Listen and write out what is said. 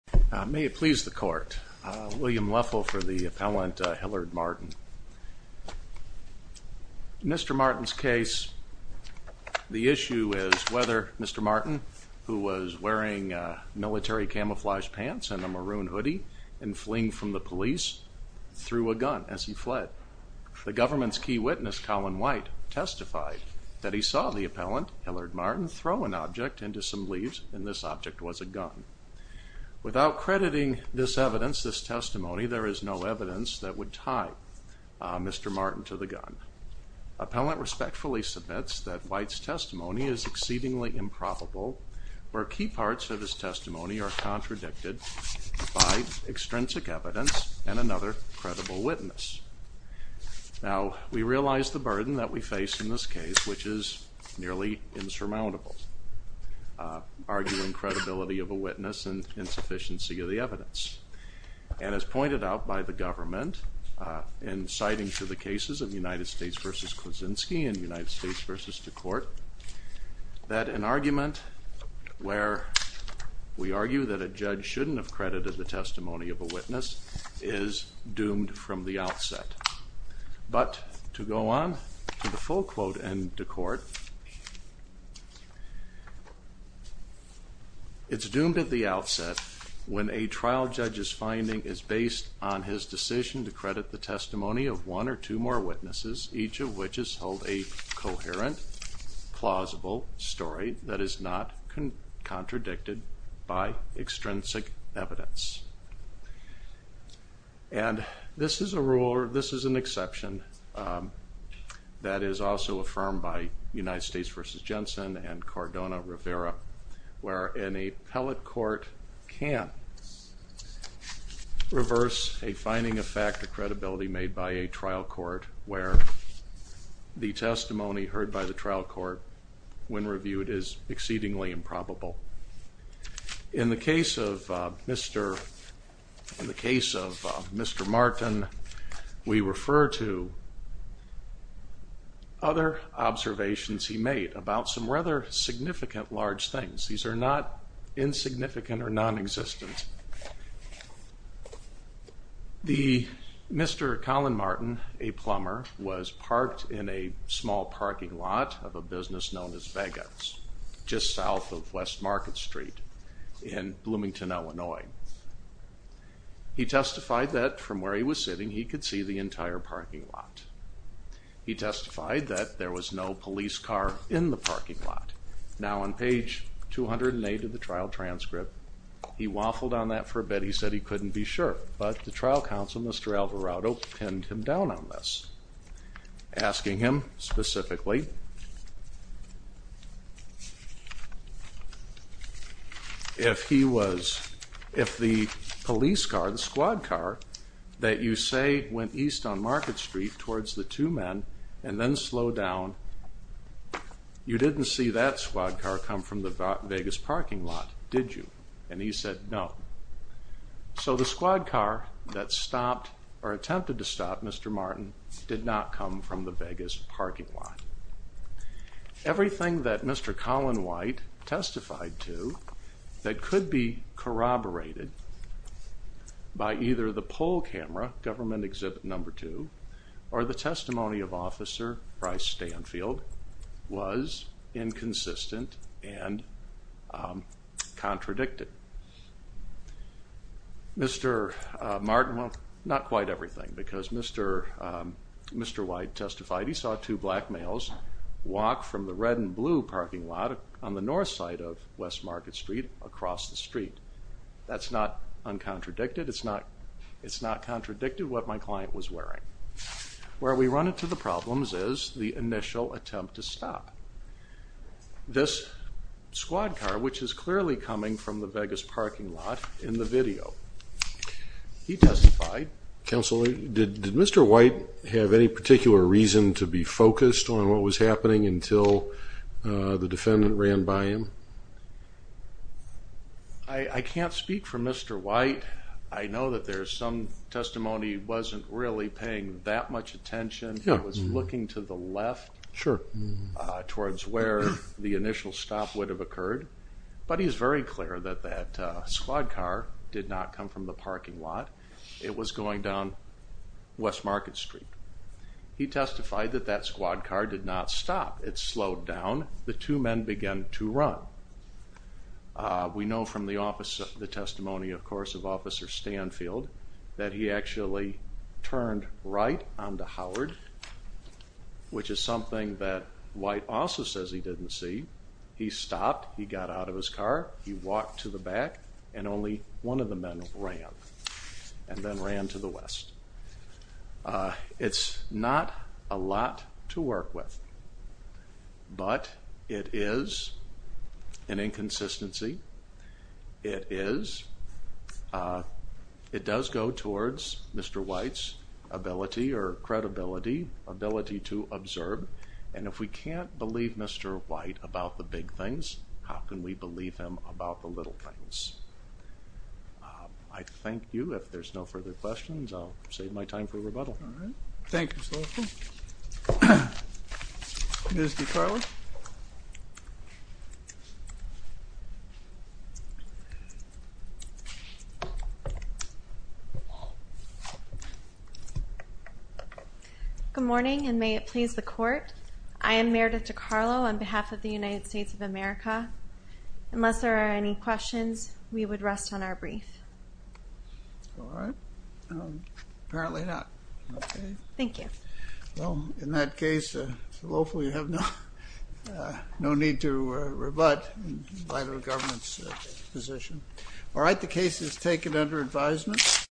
May it please the court. William Leffel for the appellant Hillard Martin. Mr. Martin's case, the issue is whether Mr. Martin, who was wearing military camouflage pants and a maroon hoodie and fleeing from the police, threw a gun as he fled. The government's key witness, Colin White, testified that he saw the appellant, Hillard Martin, throw an object into some leaves and this object was a maroon hoodie. Without crediting this evidence, this testimony, there is no evidence that would tie Mr. Martin to the gun. Appellant respectfully submits that White's testimony is exceedingly improbable where key parts of his testimony are contradicted by extrinsic evidence and another credible witness. Now we realize the burden that we face in this case which is nearly insurmountable, arguing credibility of a witness and insufficiency of the evidence. And as pointed out by the government in citing to the cases of United States v. Kuczynski and United States v. DeCourt, that an argument where we argue that a judge shouldn't have credited the testimony of a witness is doomed from the outset. But to go on to the full quote and DeCourt, it's doomed at the outset when a trial judge's finding is based on his decision to credit the testimony of one or two more witnesses, each of which is hold a coherent, plausible story that is not contradicted by extrinsic evidence. And this is a rule or this is an exception that is also affirmed by United States v. Jensen and Cardona Rivera, where an appellate court can't reverse a finding of fact or credibility made by a trial court where the testimony heard by the trial court when reviewed is exceedingly improbable. In the case of Mr., in the Martin, we refer to other observations he made about some rather significant large things. These are not insignificant or non-existent. The Mr. Colin Martin, a plumber, was parked in a small parking lot of a business known as Vega's, just south of West Market Street in Bloomington, Illinois. He testified that from where he was sitting, he could see the entire parking lot. He testified that there was no police car in the parking lot. Now on page 208 of the trial transcript, he waffled on that for a bit. He said he couldn't be sure, but the trial counsel, Mr. Alvarado, pinned him down on this, asking him specifically if he was, if the police car, the squad car, that you say went east on Market Street towards the two men and then slowed down, you didn't see that squad car come from the Vegas parking lot, did you? And he said no. So the squad car that stopped or attempted to stop Mr. Martin did not come from the Vegas parking lot. Everything that Mr. Colin White testified to that could be corroborated by either the poll camera, government exhibit number two, or the testimony of Officer Bryce Stanfield was inconsistent and contradicted. Mr. Martin, well not quite everything, because Mr. White testified he saw two black males walk from the red and blue parking lot on the north side of West Market Street across the street. That's not uncontradicted, it's not contradicted what my client was wearing. Where we run into the problems is the initial attempt to stop. This squad car, which is clearly coming from the Vegas parking lot in the video. He testified. Counselor, did Mr. White have any particular reason to be focused on what was happening until the defendant ran by him? I can't speak for Mr. White. I know that there's some testimony wasn't really paying that much attention. He was looking to the left. Sure. Towards where the initial stop would have occurred, but he's very clear that that squad car did not come from the parking lot. It was going down West Market Street. He testified that that squad car did not stop. It slowed down. The two men began to run. We know from the testimony of course of Officer Stanfield that he actually turned right onto Howard, which is something that White also says he didn't see. He stopped. He got out of his car. He walked to the back and only one of the men ran and then ran to the West. It's not a lot to work with, but it is an inconsistency. It is, it does go towards Mr. White's ability or credibility, ability to observe, and if we can't believe Mr. White about the big things, how can we believe him about the little things? I thank you. If there's no further questions, I'll save my time for rebuttal. All right. Thank you, Mr. Lothar. Ms. DeCarla? Good morning, and may it please the court. I am Meredith DeCarlo on behalf of the United States of America. Unless there are any questions, we would rest on our brief. All right. Apparently not. Okay. Thank you. Well, in that case, Lothar, you have no need to rebut in light of the government's position. All right, the case is taken under advisement.